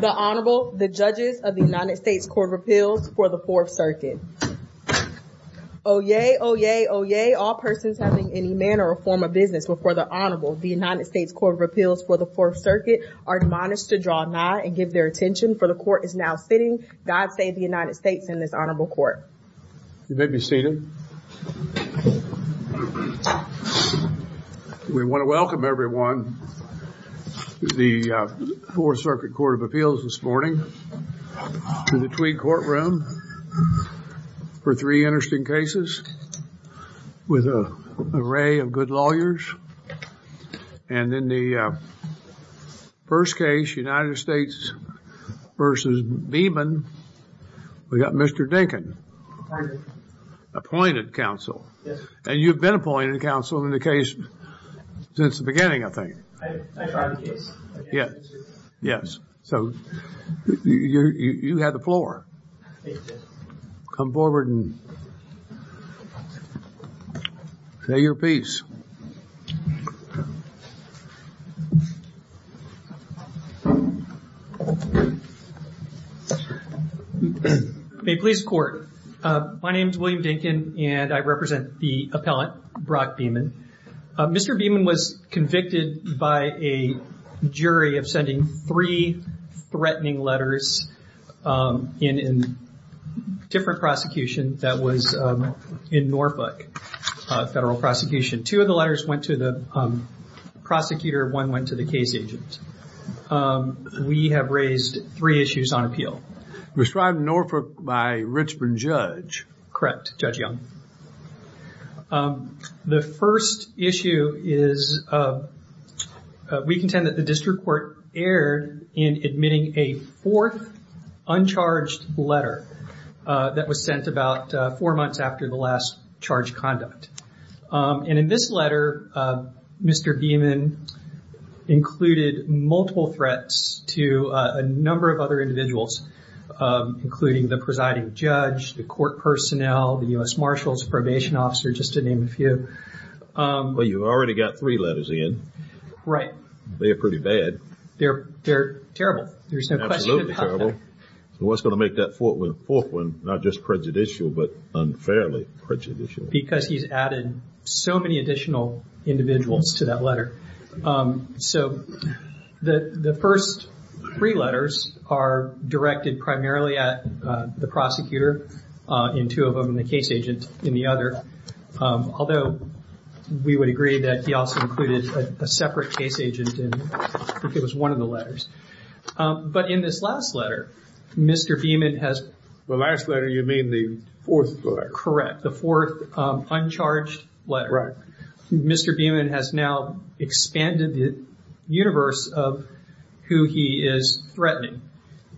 The Honorable, the Judges of the United States Court of Appeals for the Fourth Circuit. Oyez, oyez, oyez, all persons having any manner or form of business before the Honorable, the United States Court of Appeals for the Fourth Circuit, are admonished to draw nigh and give their attention, for the Court is now sitting, God save the United States, in this Honorable Court. You may be seated. We want to welcome everyone to the Fourth Circuit Court of Appeals this morning, to the Tweed Courtroom, for three interesting cases, with an array of good lawyers. And in the first case, United States v. Beeman, we've got Mr. Dinkin, appointed counsel. And you've been appointed counsel in the case since the beginning, I think. Yes. Yes. So you have the floor. Come forward and say your piece. May it please the Court. My name is William Dinkin, and I represent the appellant, Brock Beeman. Mr. Beeman was convicted by a jury of sending three threatening letters in a different prosecution that was in Norfolk, a federal prosecution. Two of the letters went to the prosecutor, one went to the case agent. We have raised three issues on appeal. It was tried in Norfolk by a Richmond judge. Correct, Judge Young. The first issue is, we contend that the district court erred in admitting a fourth uncharged letter that was sent about four months after the last charged conduct. And in this letter, Mr. Beeman included multiple threats to a number of other individuals, including the presiding judge, the court personnel, the U.S. Marshals, probation officers, just to name a few. Well, you've already got three letters in. Right. They're pretty bad. They're terrible. There's no question about that. Absolutely terrible. So what's going to make that fourth one not just prejudicial, but unfairly prejudicial? Because he's added so many additional individuals to that letter. So the first three letters are directed primarily at the prosecutor in two of them and the case agent in the other. Although we would agree that he also included a separate case agent in, I think it was one of the letters. But in this last letter, Mr. Beeman has- The last letter, you mean the fourth letter? Correct. The fourth uncharged letter. Right. Mr. Beeman has now expanded the universe of who he is threatening.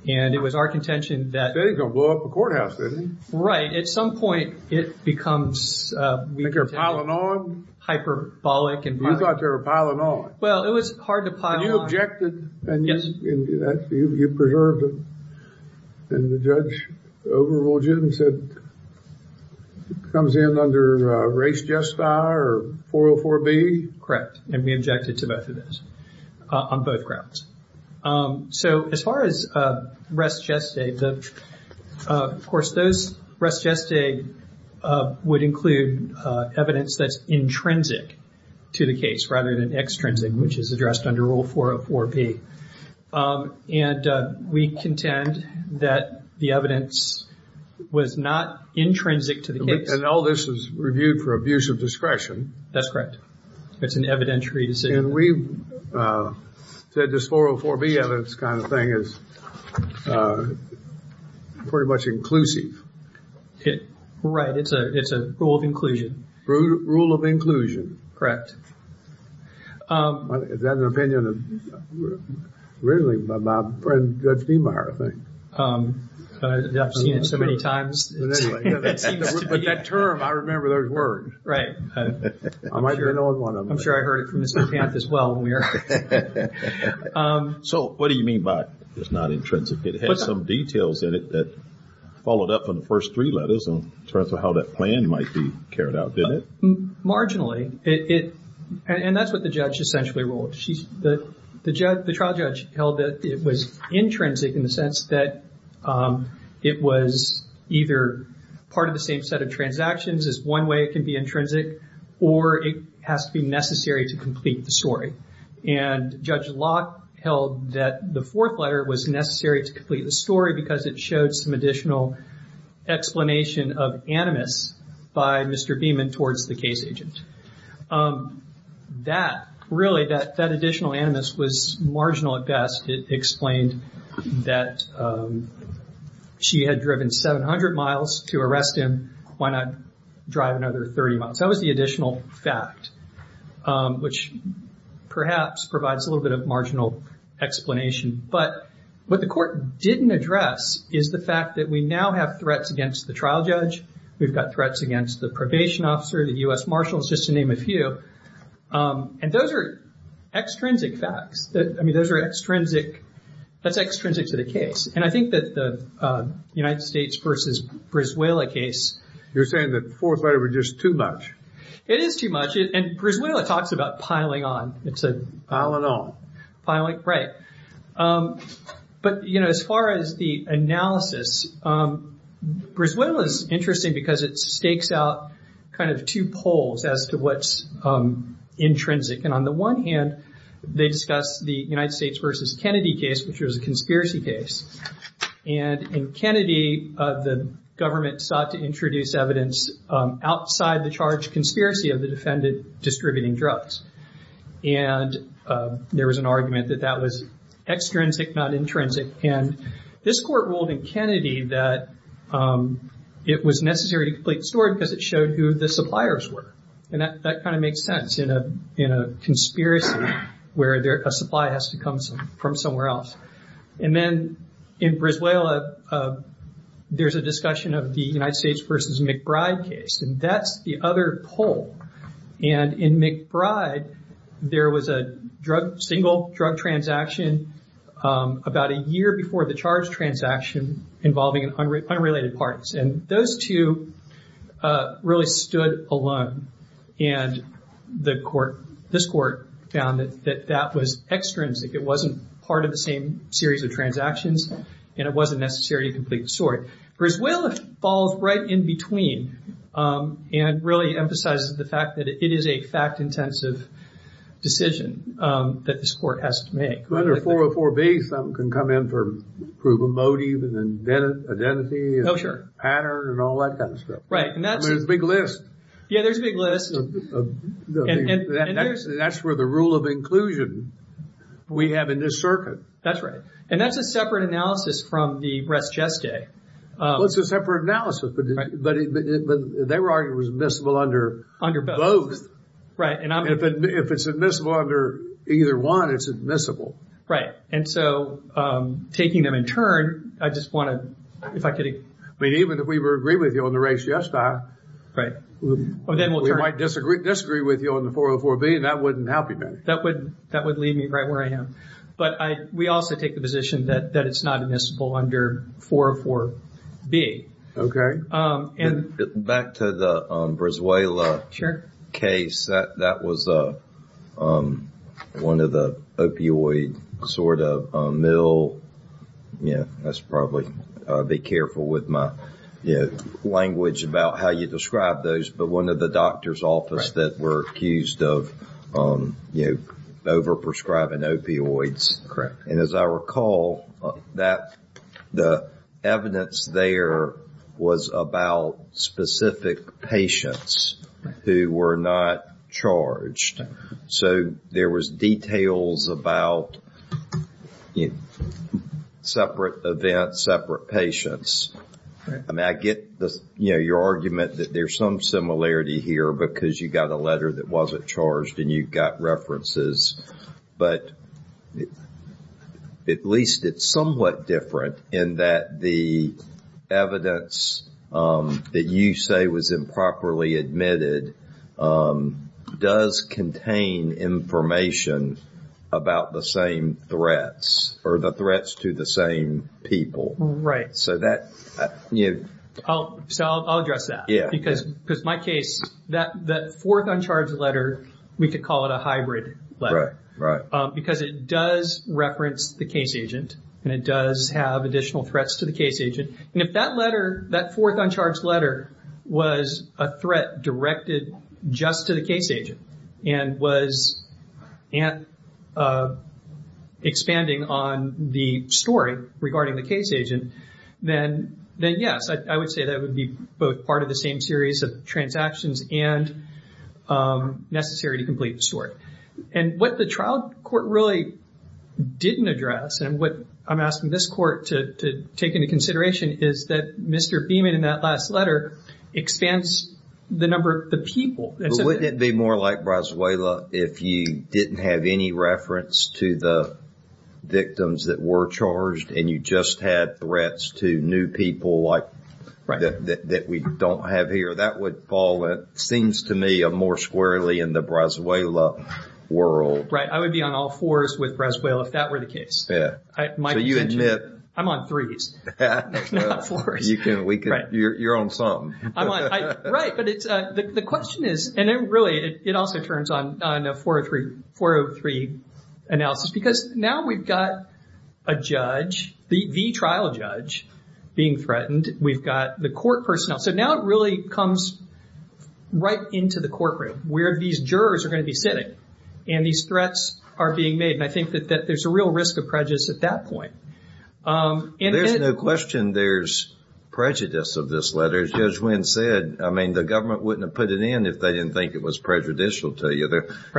And it was our contention that- He said he was going to blow up the courthouse, didn't he? Right. At some point, it becomes- Like they're piling on? Hyperbolic and- You thought they were piling on. Well, it was hard to pile on. And you objected? Yes. You preserved it. And the judge overruled you and said it comes in under Res Gesta or 404B? Correct. And we objected to both of those on both grounds. So as far as Res Gesta, of course, those- to the case rather than extrinsic, which is addressed under Rule 404B. And we contend that the evidence was not intrinsic to the case. And all this is reviewed for abuse of discretion. That's correct. It's an evidentiary decision. And we said this 404B evidence kind of thing is pretty much inclusive. Right. It's a rule of inclusion. Rule of inclusion. Is that an opinion of, really, my friend Judge Steenbuyer, I think? I've seen it so many times. But that term, I remember those words. Right. I might be the only one. I'm sure I heard it from Mr. Panth as well when we were- So what do you mean by it's not intrinsic? It has some details in it that followed up on the first three letters in terms of how that plan might be carried out, didn't it? Marginally. And that's what the judge essentially ruled. The trial judge held that it was intrinsic in the sense that it was either part of the same set of transactions is one way it can be intrinsic, or it has to be necessary to complete the story. And Judge Locke held that the fourth letter was necessary to complete the story because it showed some additional explanation of animus by Mr. Beeman towards the case agent. That, really, that additional animus was marginal at best. It explained that she had driven 700 miles to arrest him. Why not drive another 30 miles? That was the additional fact, which perhaps provides a little bit of marginal explanation. But what the court didn't address is the fact that we now have threats against the trial judge. We've got threats against the probation officer, the U.S. Marshals, just to name a few. And those are extrinsic facts. I mean, those are extrinsic. That's extrinsic to the case. And I think that the United States versus Brisuela case- You're saying that the fourth letter was just too much. It is too much. And Brisuela talks about piling on. Pile on. Piling on. Piling? But, you know, as far as the analysis, Brisuela's interesting because it stakes out kind of two poles as to what's intrinsic. And on the one hand, they discuss the United States versus Kennedy case, which was a conspiracy case. And in Kennedy, the government sought to introduce evidence outside the charged conspiracy of the defendant distributing drugs. And there was an argument that that was extrinsic, not intrinsic. And this court ruled in Kennedy that it was necessary to complete the story because it showed who the suppliers were. And that kind of makes sense in a conspiracy where a supply has to come from somewhere else. And then in Brisuela, there's a discussion of the United States versus McBride case. And that's the other pole. And in McBride, there was a single drug transaction about a year before the charged transaction involving unrelated parts. And those two really stood alone. And this court found that that was extrinsic. It wasn't part of the same series of transactions, and it wasn't necessary to complete the story. Brisuela falls right in between and really emphasizes the fact that it is a fact-intensive decision that this court has to make. Under 404B, something can come in to prove a motive, an identity, a pattern, and all that kind of stuff. Right. And there's a big list. Yeah, there's a big list. And that's where the rule of inclusion we have in this circuit. That's right. And that's a separate analysis from the res geste. Well, it's a separate analysis. But they were arguing it was admissible under both. Right. And if it's admissible under either one, it's admissible. Right. And so taking them in turn, I just want to, if I could. I mean, even if we were to agree with you on the res geste, we might disagree with you on the 404B, and that wouldn't help you. That would leave me right where I am. But we also take the position that it's not admissible under 404B. Back to the Vrezuela case. That was one of the opioid sort of mill, yeah, let's probably be careful with my language about how you describe those. But one of the doctor's office that were accused of over-prescribing opioids. And as I recall, the evidence there was about specific patients who were not charged. So there was details about separate events, separate patients. Right. I get your argument that there's some similarity here because you got a letter that wasn't charged and you got references. But at least it's somewhat different in that the evidence that you say was improperly admitted does contain information about the same threats or the threats to the same people. Right. So that, you know. So I'll address that. Yeah. Because my case, that fourth uncharged letter, we could call it a hybrid letter. Right, right. Because it does reference the case agent and it does have additional threats to the case agent. And if that letter, that fourth uncharged letter was a threat directed just to the case agent and was expanding on the story regarding the case agent, then yes, I would say that would be both part of the same series of transactions and necessary to complete the story. And what the trial court really didn't address and what I'm asking this court to take into consideration is that Mr. Beeman in that last letter expands the number of the people. Wouldn't it be more like Brazuela if you didn't have any reference to the victims that were charged and you just had threats to new people like that we don't have here? That would fall, it seems to me, more squarely in the Brazuela world. Right. I would be on all fours with Brazuela if that were the case. Yeah. So you admit. I'm on threes, not fours. You're on something. Right. But the question is, and really it also turns on a 403 analysis, because now we've got a judge, the trial judge, being threatened. We've got the court personnel. So now it really comes right into the courtroom where these jurors are going to be sitting and these threats are being made. And I think that there's a real risk of prejudice at that point. There's no question there's prejudice of this letter. As Judge Wynn said, I mean, the government wouldn't have put it in if they didn't think it was prejudicial to you.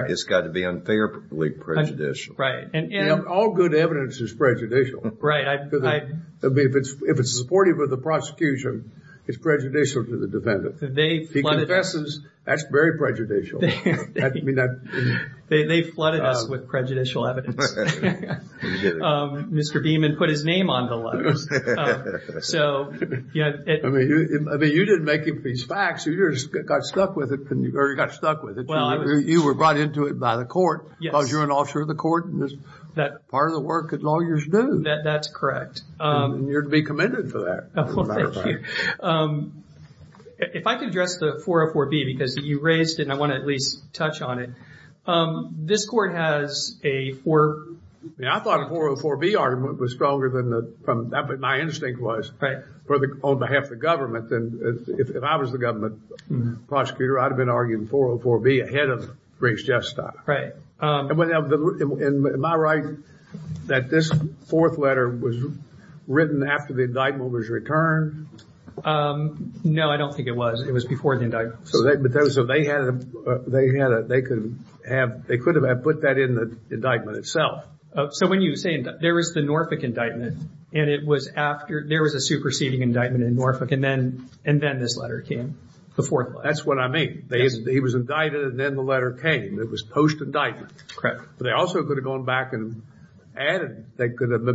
It's got to be unfairly prejudicial. Right. All good evidence is prejudicial. Right. If it's supportive of the prosecution, it's prejudicial to the defendant. He confesses, that's very prejudicial. They flooded us with prejudicial evidence. Mr. Beamon put his name on the letter. So, yeah. I mean, you didn't make it for these facts. You just got stuck with it, or you got stuck with it. You were brought into it by the court because you're an officer of the court. That's part of the work that lawyers do. That's correct. And you're to be commended for that. Well, thank you. If I could address the 404B, because you raised it and I want to at least touch on it. This court has a 4- Yeah, I thought the 404B argument was stronger than the- My instinct was, on behalf of the government, if I was the government prosecutor, I'd have been arguing 404B ahead of Briggs-Jeffstock. Right. Am I right that this fourth letter was written after the indictment was returned? No, I don't think it was. It was before the indictment. So they could have put that in the indictment itself. So when you say there was the Norfolk indictment, and it was after there was a superseding indictment in Norfolk, and then this letter came, the fourth letter. That's what I mean. He was indicted, and then the letter came. It was post-indictment. Correct. They also could have gone back and added. They could have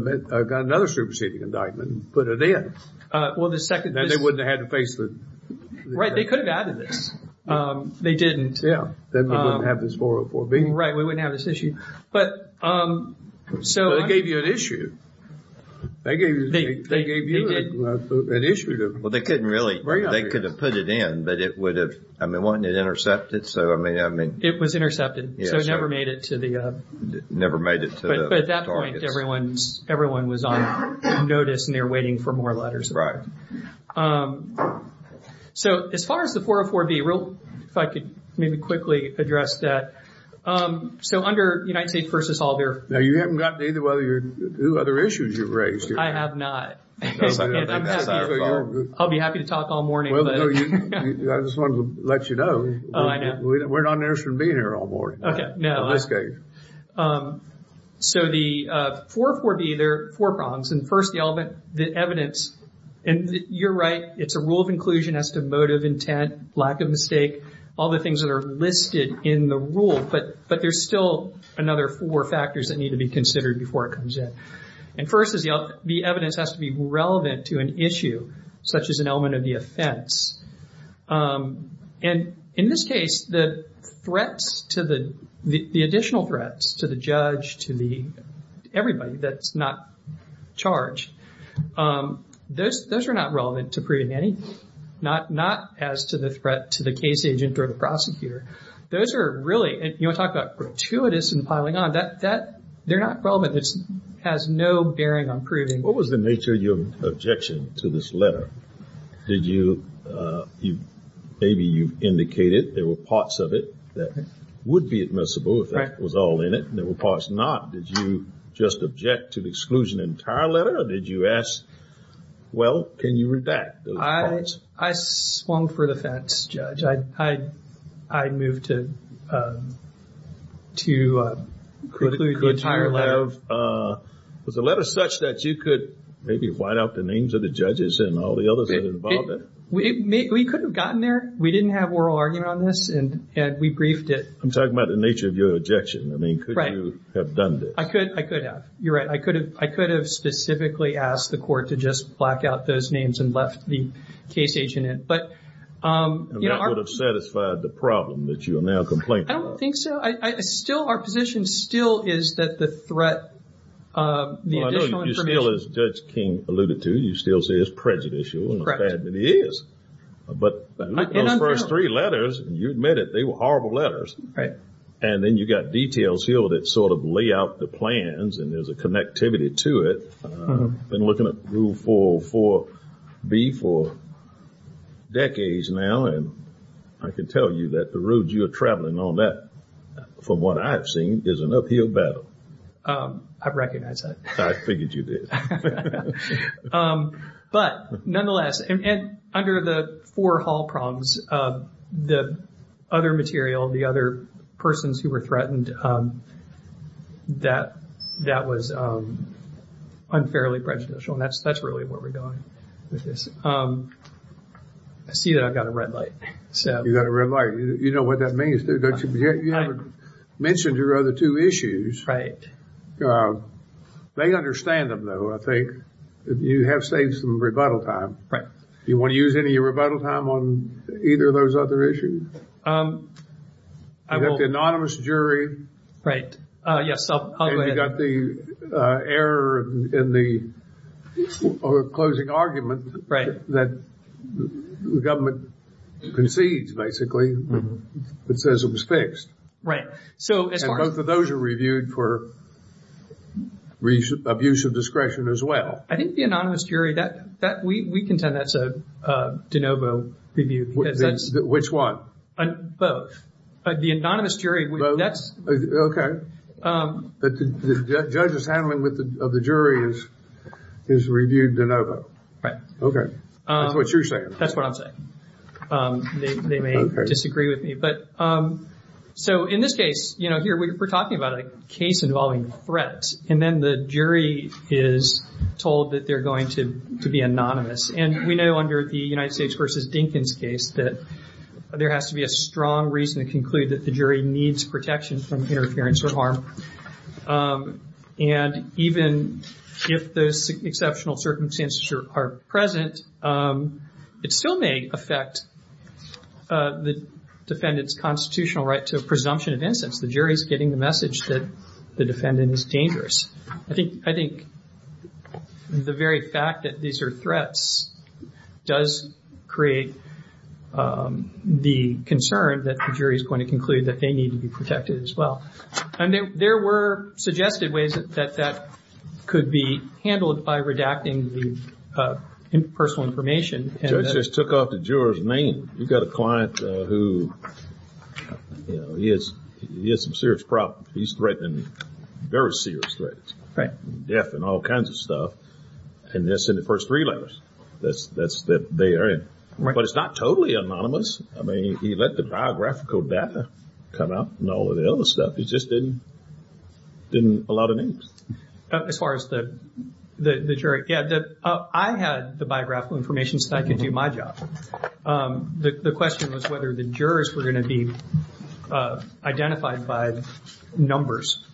got another superseding indictment and put it in. Well, the second- Then they wouldn't have had to face the- Right. They could have added this. They didn't. Yeah. Then we wouldn't have this 404B. Right. We wouldn't have this issue. But- They gave you an issue. They gave you an issue. Well, they couldn't really- They could have put it in, but it would have- I mean, wouldn't it intercept it? It was intercepted, so it never made it to the- Never made it to the targets. But at that point, everyone was on notice, and they were waiting for more letters. Right. So, as far as the 404B, if I could maybe quickly address that. So, under United States v. Oliver- Now, you haven't gotten to either of the other issues you've raised here. I have not. I'll be happy to talk all morning, but- I just wanted to let you know. Oh, I know. We're not interested in being here all morning. Okay. No. In this case. So, the 404B, there are four prongs. And first, the evidence. And you're right. It's a rule of inclusion as to motive, intent, lack of mistake, all the things that are listed in the rule. But there's still another four factors that need to be considered before it comes in. And first is the evidence has to be relevant to an issue, such as an element of the offense. And in this case, the threats to the- the additional threats to the judge, to the- everybody that's not charged. Those are not relevant to proving anything. Not as to the threat to the case agent or the prosecutor. Those are really- you want to talk about gratuitous and piling on. They're not relevant. It has no bearing on proving- What was the nature of your objection to this letter? Did you- maybe you indicated there were parts of it that would be admissible, if that was all in it, and there were parts not. Did you just object to the exclusion of the entire letter, or did you ask, well, can you redact those parts? I swung for the fence, Judge. I'd move to include the entire letter. Was the letter such that you could maybe white out the names of the judges and all the others that are involved in it? We could have gotten there. We didn't have oral argument on this, and we briefed it. I'm talking about the nature of your objection. I mean, could you have done this? I could have. You're right. I could have specifically asked the court to just black out those names and left the case agent in. That would have satisfied the problem that you are now complaining about. I don't think so. Our position still is that the threat- Well, I know you still, as Judge King alluded to, you still say it's prejudicial, and it is. But those first three letters, you admit it, they were horrible letters. Right. And then you've got details here that sort of lay out the plans, and there's a connectivity to it. I've been looking at Rule 404B for decades now, and I can tell you that the route you're traveling on that, from what I've seen, is an uphill battle. I recognize that. I figured you did. But nonetheless, under the four hall prongs, the other material, the other persons who were threatened, that was unfairly prejudicial. And that's really where we're going with this. I see that I've got a red light. You've got a red light. You know what that means. You haven't mentioned your other two issues. Right. They understand them, though, I think. You have saved some rebuttal time. Do you want to use any of your rebuttal time on either of those other issues? I will. You've got the anonymous jury. Right. Yes, I'll go ahead. And you've got the error in the closing argument that the government concedes, basically, that says it was fixed. Right. And both of those are reviewed for abuse of discretion as well. I think the anonymous jury, we contend that's a de novo review. Which one? Both. The anonymous jury. Okay. The judge's handling of the jury is reviewed de novo. Right. Okay. That's what you're saying. That's what I'm saying. They may disagree with me. In this case, here, we're talking about a case involving threats. And then the jury is told that they're going to be anonymous. And we know under the United States v. Dinkins case that there has to be a strong reason to conclude that the jury needs protection from interference or harm. And even if those exceptional circumstances are present, it still may affect the defendant's constitutional right to a presumption of The jury is getting the message that the defendant is dangerous. I think the very fact that these are threats does create the concern that the jury is going to conclude that they need to be protected as well. And there were suggested ways that that could be handled by redacting the personal information. The judge just took off the juror's name. You've got a client who, you know, he has some serious problems. He's threatening very serious threats. Right. Death and all kinds of stuff. And that's in the first three letters that they are in. Right. But it's not totally anonymous. I mean, he let the biographical data come out and all of the other stuff. He just didn't allow the names. As far as the jury, yeah. I had the biographical information so that I could do my job. The question was whether the jurors were going to be identified by numbers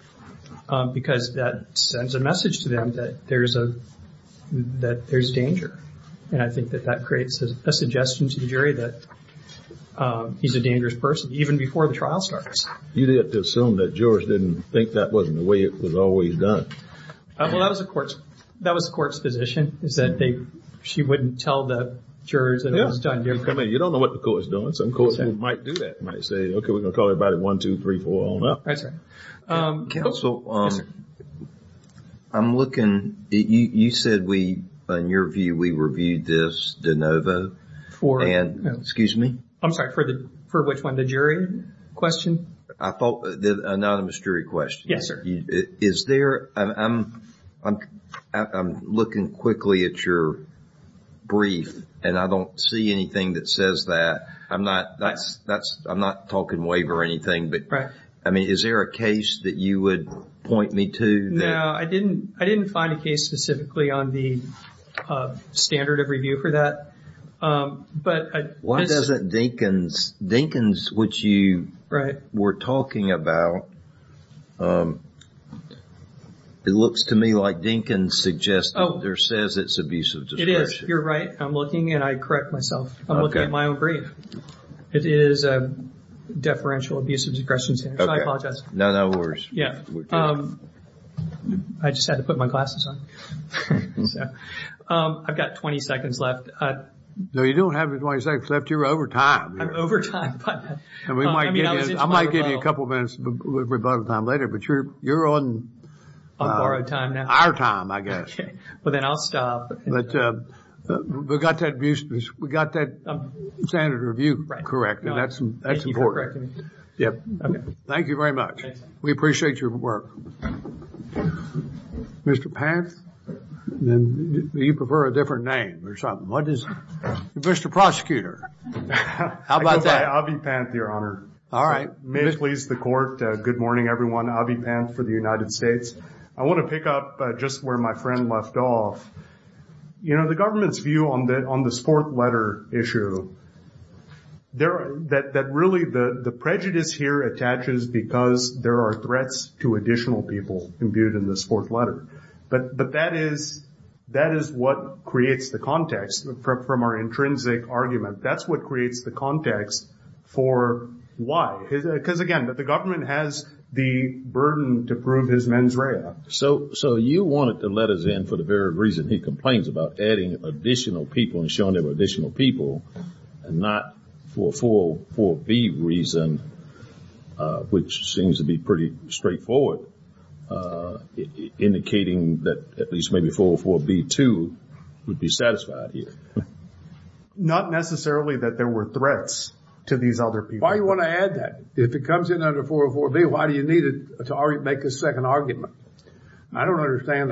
because that sends a message to them that there's danger. And I think that that creates a suggestion to the jury that he's a dangerous person, even before the trial starts. You'd have to assume that jurors didn't think that wasn't the way it was always done. Well, that was the court's position is that she wouldn't tell the jurors that it was done differently. You don't know what the court is doing. Some courts might do that. They might say, okay, we're going to call everybody one, two, three, four, on up. That's right. Counsel, I'm looking. You said we, in your view, we reviewed this de novo. For? Excuse me? I'm sorry. For which one? The jury question? I thought the anonymous jury question. Yes, sir. Is there? I'm looking quickly at your brief and I don't see anything that says that. I'm not talking waiver or anything. Right. I mean, is there a case that you would point me to? No, I didn't find a case specifically on the standard of review for that. Why doesn't Dinkins, which you were talking about, it looks to me like Dinkins suggests that there says it's abusive discretion. It is. You're right. I'm looking and I correct myself. I'm looking at my own brief. It is a deferential abusive discretion standard. I apologize. No, no worries. I just had to put my glasses on. I've got 20 seconds left. No, you don't have 20 seconds left. You're over time. I'm over time. I might give you a couple of minutes of rebuttal time later, but you're on our time, I guess. But then I'll stop. But we got that standard of review correct. And that's important. Thank you for correcting me. Thank you very much. We appreciate your work. Mr. Panth, you prefer a different name or something. What is it? Mr. Prosecutor, how about that? I go by Avi Panth, Your Honor. All right. Please, the court. Good morning, everyone. Avi Panth for the United States. I want to pick up just where my friend left off. You know, the government's view on the sport letter issue, that really the prejudice here attaches because there are threats to additional people imbued in this fourth letter. But that is what creates the context from our intrinsic argument. That's what creates the context for why. Because, again, the government has the burden to prove his mens rea. So you wanted the letters in for the very reason he complains about adding additional people and showing there were additional people, and not for a 404B reason, which seems to be pretty straightforward, indicating that at least maybe 404B2 would be satisfied here. Not necessarily that there were threats to these other people. Why do you want to add that? If it comes in under 404B, why do you need it to make a second argument? I don't understand.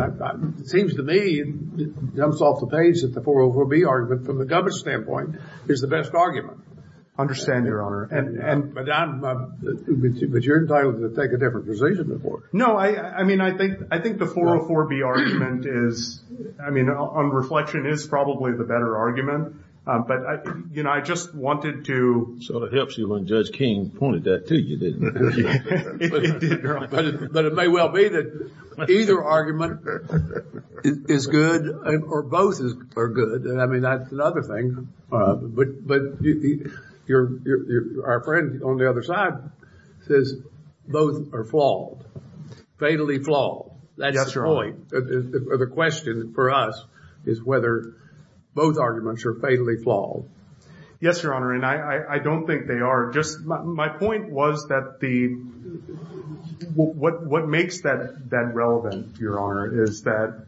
It seems to me, it jumps off the page that the 404B argument, from the government's standpoint, is the best argument. I understand, Your Honor. But you're entitled to take a different position. No, I mean, I think the 404B argument is, I mean, on reflection is probably the better argument. But, you know, I just wanted to. So it helps you when Judge King pointed that to you. It did, Your Honor. But it may well be that either argument is good or both are good. I mean, that's another thing. But our friend on the other side says both are flawed, fatally flawed. That's the point. The question for us is whether both arguments are fatally flawed. Yes, Your Honor, and I don't think they are. My point was that what makes that relevant, Your Honor, is that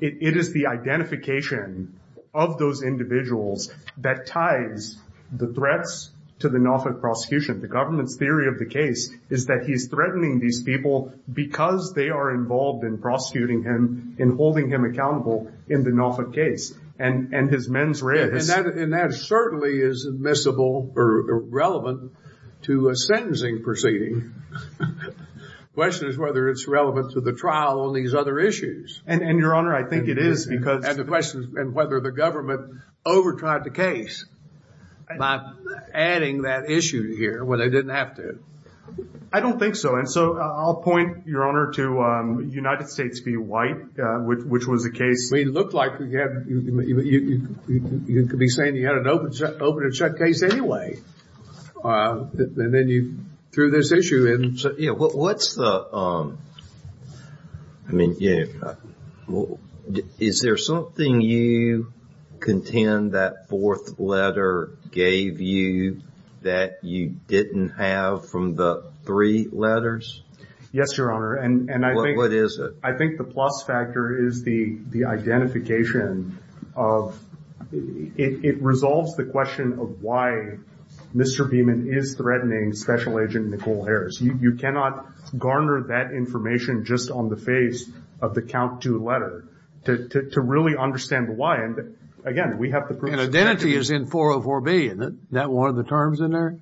it is the identification of those individuals that ties the threats to the Norfolk prosecution. The government's theory of the case is that he's threatening these people because they are involved in prosecuting him, in holding him accountable in the Norfolk case. And his men's rights. And that certainly is admissible or relevant to a sentencing proceeding. The question is whether it's relevant to the trial on these other issues. And, Your Honor, I think it is because... And the question is whether the government over-tried the case by adding that issue here when they didn't have to. I don't think so. And so I'll point, Your Honor, to United States v. White, which was a case... I mean, it looked like you could be saying you had an open and shut case anyway. And then you threw this issue in. Yeah, what's the... I mean, is there something you contend that fourth letter gave you that you didn't have from the three letters? Yes, Your Honor, and I think... What is it? I think the plus factor is the identification of... It resolves the question of why Mr. Beeman is threatening Special Agent Nicole Harris. You cannot garner that information just on the face of the count two letter to really understand why. And, again, we have the proof... And identity is in 404B, isn't it? Isn't that one of the terms in there?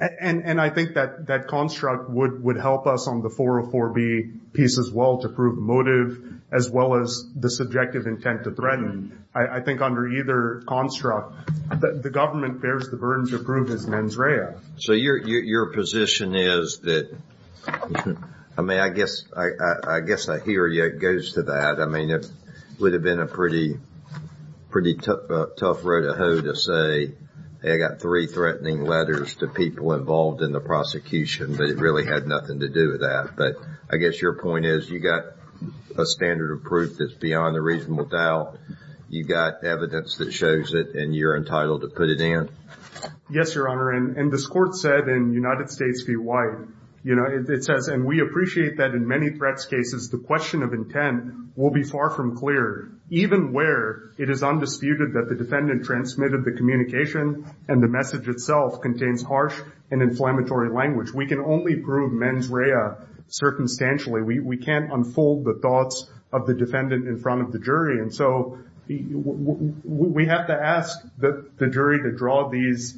And I think that construct would help us on the 404B piece as well to prove motive as well as the subjective intent to threaten. I think under either construct, the government bears the burden to prove his mens rea. So your position is that... I mean, I guess I hear you. It goes to that. I mean, it would have been a pretty tough road to hoe to say, hey, I got three threatening letters to people involved in the prosecution, but it really had nothing to do with that. But I guess your point is you got a standard of proof that's beyond a reasonable doubt. You got evidence that shows it, and you're entitled to put it in. Yes, Your Honor, and this Court said in United States v. White, it says, and we appreciate that in many threats cases, the question of intent will be far from clear, even where it is undisputed that the defendant transmitted the communication and the message itself contains harsh and inflammatory language. We can only prove mens rea circumstantially. We can't unfold the thoughts of the defendant in front of the jury. And so we have to ask the jury to draw these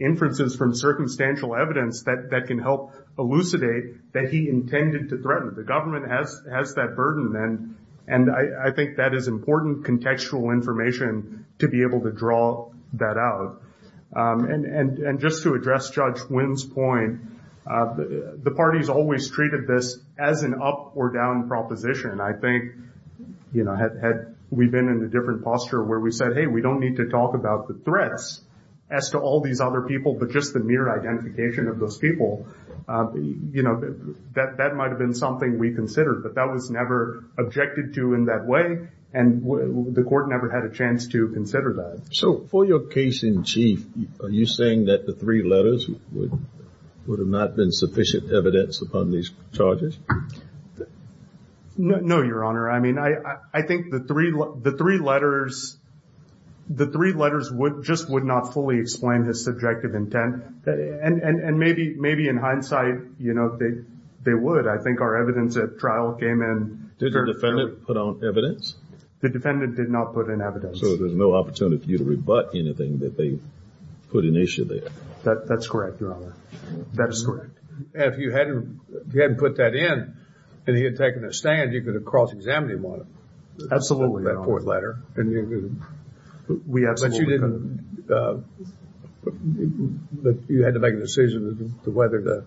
inferences from circumstantial evidence that can help elucidate that he intended to threaten. The government has that burden, and I think that is important contextual information to be able to draw that out. And just to address Judge Wynn's point, the parties always treated this as an up or down proposition. I think, you know, had we been in a different posture where we said, hey, we don't need to talk about the threats as to all these other people but just the mere identification of those people, you know, that might have been something we considered. But that was never objected to in that way, and the court never had a chance to consider that. So for your case in chief, are you saying that the three letters would have not been sufficient evidence upon these charges? No, Your Honor. I mean, I think the three letters just would not fully explain his subjective intent. And maybe in hindsight, you know, they would. I think our evidence at trial came in. Did the defendant put on evidence? The defendant did not put on evidence. So there's no opportunity for you to rebut anything that they put in issue there? That's correct, Your Honor. That is correct. If you hadn't put that in and he had taken a stand, you could have cross-examined him on it. Absolutely, Your Honor. That fourth letter. But you had to make a decision as to whether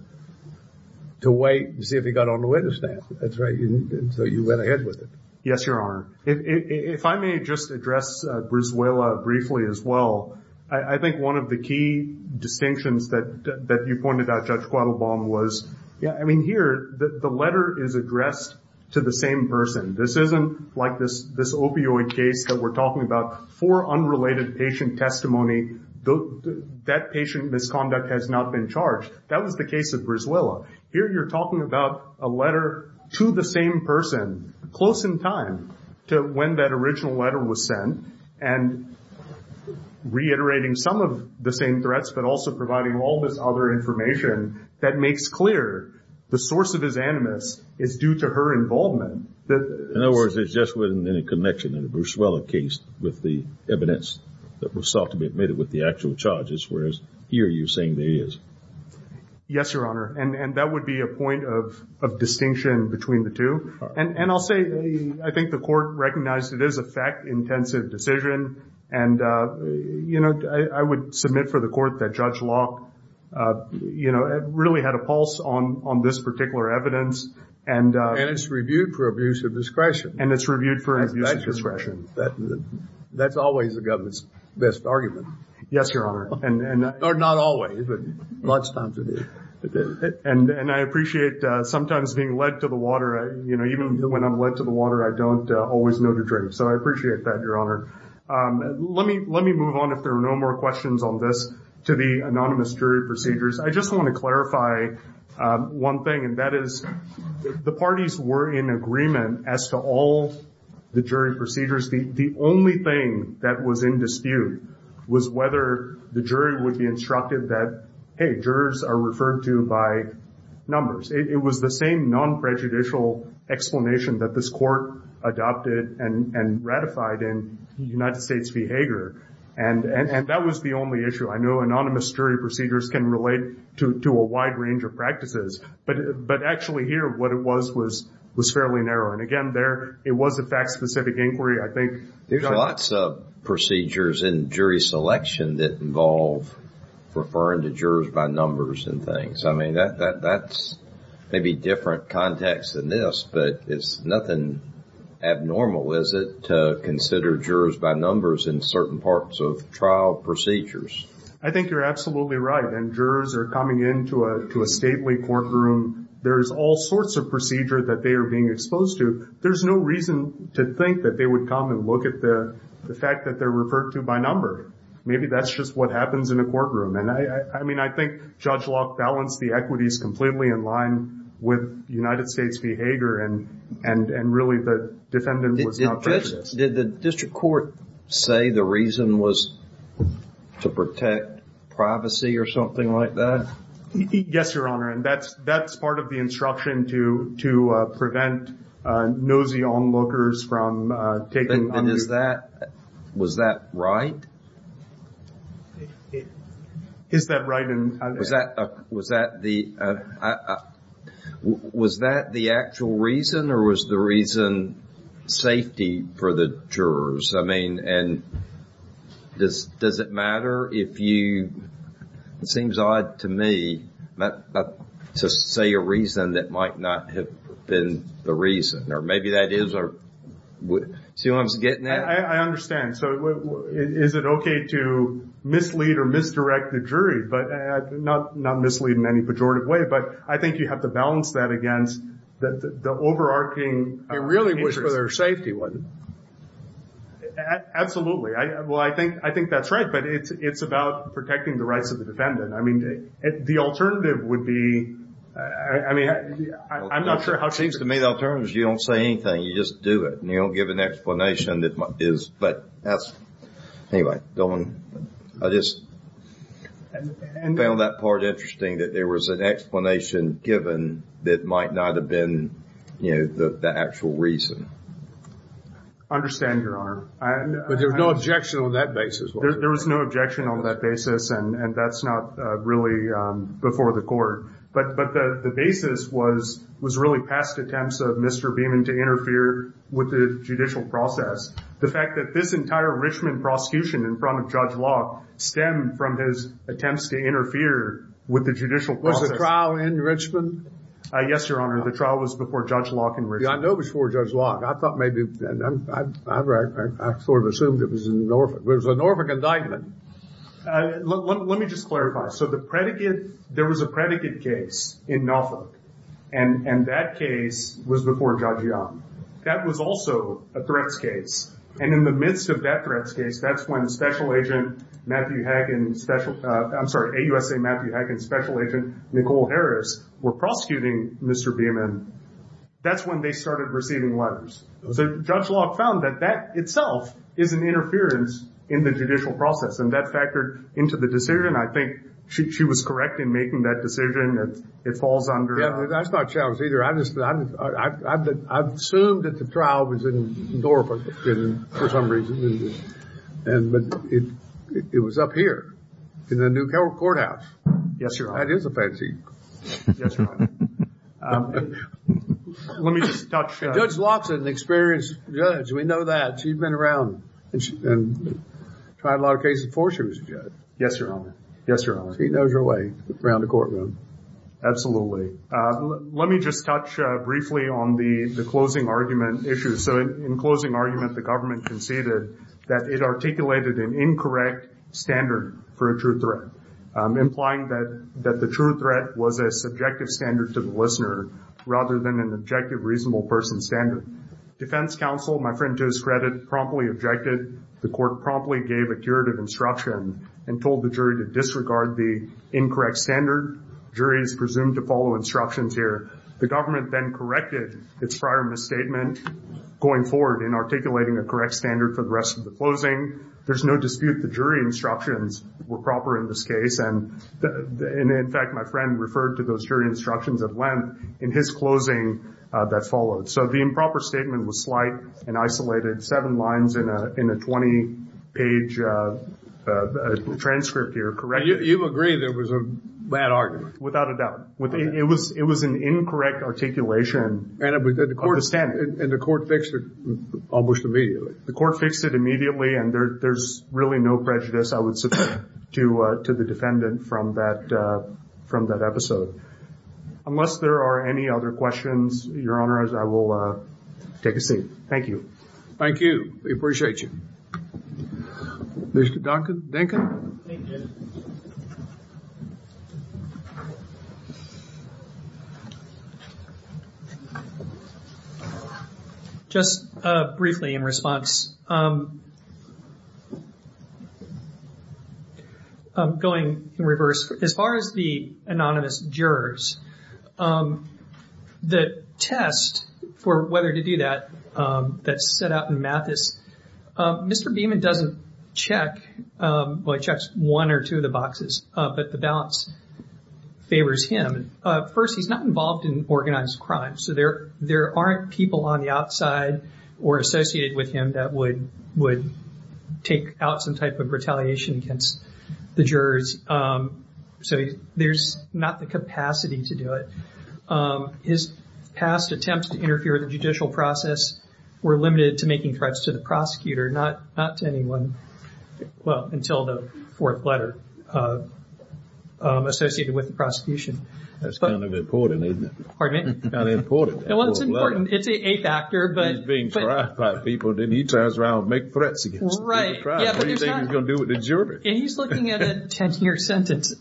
to wait and see if he got on the witness stand. That's right. So you went ahead with it. Yes, Your Honor. If I may just address Brizuela briefly as well, I think one of the key distinctions that you pointed out, Judge Quattlebaum, was, I mean, here, the letter is addressed to the same person. This isn't like this opioid case that we're talking about. For unrelated patient testimony, that patient misconduct has not been charged. That was the case of Brizuela. Here you're talking about a letter to the same person, close in time to when that original letter was sent, and reiterating some of the same threats, but also providing all this other information that makes clear the source of his animus is due to her involvement. In other words, it's just within a connection in the Brizuela case with the evidence that was sought to be admitted with the actual charges, whereas here you're saying there is. Yes, Your Honor. And that would be a point of distinction between the two. And I'll say I think the Court recognized it is a fact-intensive decision. And, you know, I would submit for the Court that Judge Locke, you know, really had a pulse on this particular evidence. And it's reviewed for abuse of discretion. And it's reviewed for abuse of discretion. That's always the government's best argument. Yes, Your Honor. Or not always, but lots of times it is. And I appreciate sometimes being led to the water. You know, even when I'm led to the water, I don't always know to drink. So I appreciate that, Your Honor. Let me move on, if there are no more questions on this, to the anonymous jury procedures. I just want to clarify one thing, and that is the parties were in agreement as to all the jury procedures. The only thing that was in dispute was whether the jury would be instructed that, hey, jurors are referred to by numbers. It was the same non-prejudicial explanation that this Court adopted and ratified in United States v. Hager. And that was the only issue. I know anonymous jury procedures can relate to a wide range of practices. But actually here what it was was fairly narrow. And, again, there it was a fact-specific inquiry. I think, Your Honor. There's lots of procedures in jury selection that involve referring to jurors by numbers and things. I mean, that's maybe a different context than this, but it's nothing abnormal, is it, to consider jurors by numbers in certain parts of trial procedures? I think you're absolutely right. And jurors are coming into a stately courtroom. There's all sorts of procedure that they are being exposed to. There's no reason to think that they would come and look at the fact that they're referred to by number. Maybe that's just what happens in a courtroom. I mean, I think Judge Locke balanced the equities completely in line with United States v. Hager, and really the defendant was not prejudiced. Did the district court say the reason was to protect privacy or something like that? Yes, Your Honor. And that's part of the instruction to prevent nosy onlookers from taking on view. Was that right? Is that right? Was that the actual reason or was the reason safety for the jurors? I mean, does it matter if you, it seems odd to me, to say a reason that might not have been the reason. Or maybe that is. See what I'm getting at? I understand. So is it okay to mislead or misdirect the jury? Not mislead in any pejorative way, but I think you have to balance that against the overarching interest. It really was for their safety, wasn't it? Absolutely. Well, I think that's right, but it's about protecting the rights of the defendant. I mean, the alternative would be, I mean, I'm not sure how safe it is. I mean, the alternative is you don't say anything, you just do it. And you don't give an explanation that is, but that's, anyway, I just found that part interesting, that there was an explanation given that might not have been, you know, the actual reason. I understand, Your Honor. But there was no objection on that basis. There was no objection on that basis, and that's not really before the court. But the basis was really past attempts of Mr. Beaman to interfere with the judicial process. The fact that this entire Richmond prosecution in front of Judge Locke stemmed from his attempts to interfere with the judicial process. Was the trial in Richmond? Yes, Your Honor. The trial was before Judge Locke in Richmond. I know it was before Judge Locke. I thought maybe, I sort of assumed it was in Norfolk. It was a Norfolk indictment. Let me just clarify. So the predicate, there was a predicate case in Norfolk, and that case was before Judge Young. That was also a threats case. And in the midst of that threats case, that's when Special Agent Matthew Hagen, I'm sorry, AUSA Matthew Hagen's Special Agent Nicole Harris were prosecuting Mr. Beaman. That's when they started receiving letters. So Judge Locke found that that itself is an interference in the judicial process, and that factored into the decision. I think she was correct in making that decision. It falls under. Yeah, that's not challenged either. I've assumed that the trial was in Norfolk for some reason. But it was up here in the new courthouse. Yes, Your Honor. That is a fantasy. Yes, Your Honor. Let me just touch. Judge Locke's an experienced judge. We know that. She's been around and tried a lot of cases before she was a judge. Yes, Your Honor. Yes, Your Honor. She knows her way around the courtroom. Absolutely. Let me just touch briefly on the closing argument issue. So in closing argument, the government conceded that it articulated an incorrect standard for a true threat, implying that the true threat was a subjective standard to the listener rather than an objective reasonable person standard. Defense counsel, my friend to his credit, promptly objected. The court promptly gave a curative instruction and told the jury to disregard the incorrect standard. Juries presumed to follow instructions here. The government then corrected its prior misstatement going forward in articulating a correct standard for the rest of the closing. There's no dispute the jury instructions were proper in this case, and, in fact, my friend referred to those jury instructions at length in his closing that followed. So the improper statement was slight and isolated, seven lines in a 20-page transcript here, correct? You agree there was a bad argument. Without a doubt. It was an incorrect articulation of the standard. And the court fixed it almost immediately. The court fixed it immediately, and there's really no prejudice, I would suggest, to the defendant from that episode. Unless there are any other questions, Your Honor, I will take a seat. Thank you. Thank you. We appreciate you. Just briefly in response. Going in reverse, as far as the anonymous jurors, the test for whether to do that, that's set out in Mathis, Mr. Beamon doesn't check, well, he checks one or two of the boxes, but the balance favors him. First, he's not involved in organized crime, so there aren't people on the outside or associated with him that would take out some type of retaliation against the jurors. So there's not the capacity to do it. His past attempts to interfere with the judicial process were limited to making threats to the prosecutor, not to anyone, well, until the fourth letter associated with the prosecution. That's kind of important, isn't it? Pardon me? Kind of important. Well, it's important. It's the eighth actor, but. He's being tried by people, and then he turns around and makes threats against them. Right. What do you think he's going to do with the jurors? He's looking at a 10-year sentence.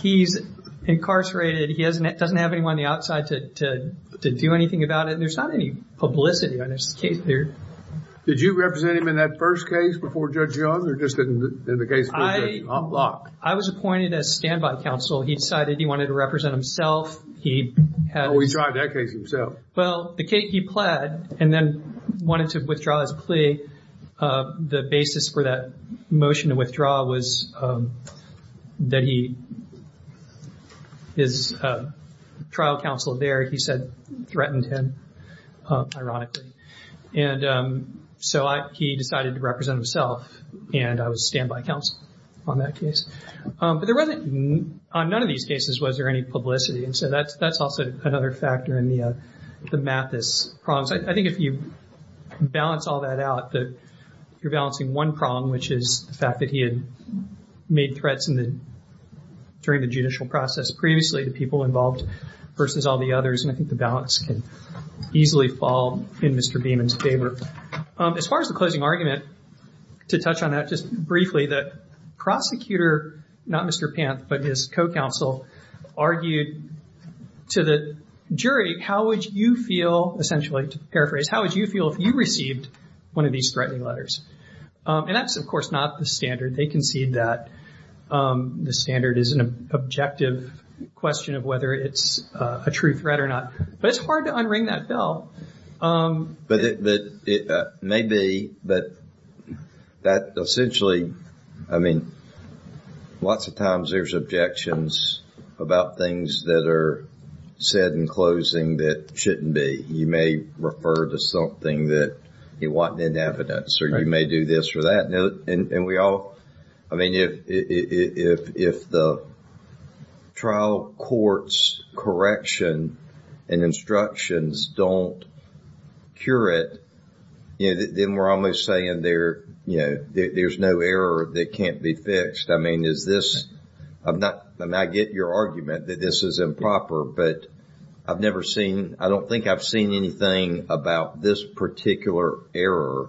He's incarcerated. He doesn't have anyone on the outside to do anything about it. There's not any publicity on his case there. Did you represent him in that first case before Judge Young, or just in the case before Judge Locke? I was appointed as standby counsel. He decided he wanted to represent himself. Oh, he tried that case himself. Well, he pled and then wanted to withdraw his plea. The basis for that motion to withdraw was that his trial counsel there, he said, threatened him, ironically. And so he decided to represent himself, and I was standby counsel on that case. But there wasn't, on none of these cases, was there any publicity. And so that's also another factor in the Mathis problems. I think if you balance all that out, you're balancing one problem, which is the fact that he had made threats during the judicial process previously to people involved versus all the others, and I think the balance can easily fall in Mr. Beeman's favor. As far as the closing argument, to touch on that just briefly, the prosecutor, not Mr. Panth, but his co-counsel argued to the jury, how would you feel, essentially, to paraphrase, how would you feel if you received one of these threatening letters? And that's, of course, not the standard. They concede that the standard is an objective question of whether it's a true threat or not. But it's hard to unring that bell. But it may be, but that essentially, I mean, lots of times there's objections about things that are said in closing that shouldn't be. You may refer to something that you want in evidence, or you may do this or that. And we all, I mean, if the trial court's correction and instructions don't cure it, then we're almost saying there's no error that can't be fixed. I mean, is this, I get your argument that this is improper, but I've never seen, I don't think I've seen anything about this particular error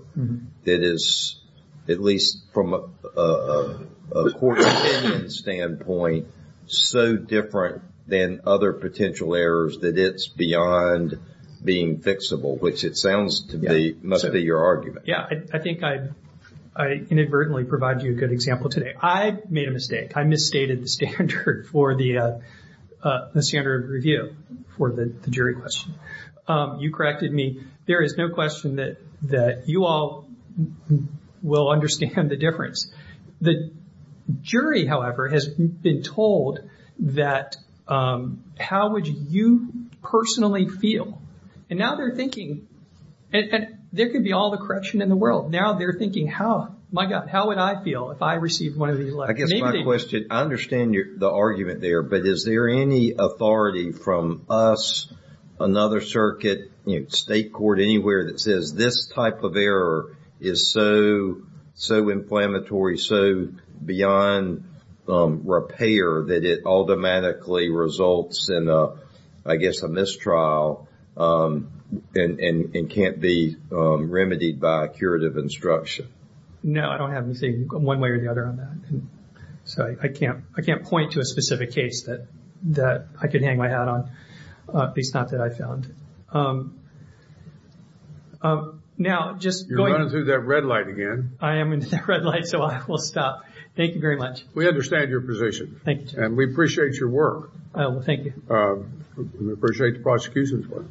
that is, at least from a court's opinion standpoint, so different than other potential errors that it's beyond being fixable, which it sounds to me must be your argument. Yeah, I think I inadvertently provided you a good example today. I made a mistake. I misstated the standard for the standard review for the jury question. You corrected me. There is no question that you all will understand the difference. The jury, however, has been told that how would you personally feel? And now they're thinking, and there could be all the correction in the world. Now they're thinking, my God, how would I feel if I received one of these letters? I guess my question, I understand the argument there, but is there any authority from us, another circuit, state court, anywhere that says this type of error is so inflammatory, so beyond repair, that it automatically results in, I guess, a mistrial and can't be remedied by curative instruction? No, I don't have anything one way or the other on that. So I can't point to a specific case that I could hang my hat on, at least not that I found. You're running through that red light again. I am into that red light, so I will stop. Thank you very much. We understand your position. Thank you. And we appreciate your work. Thank you. We appreciate the prosecution's work.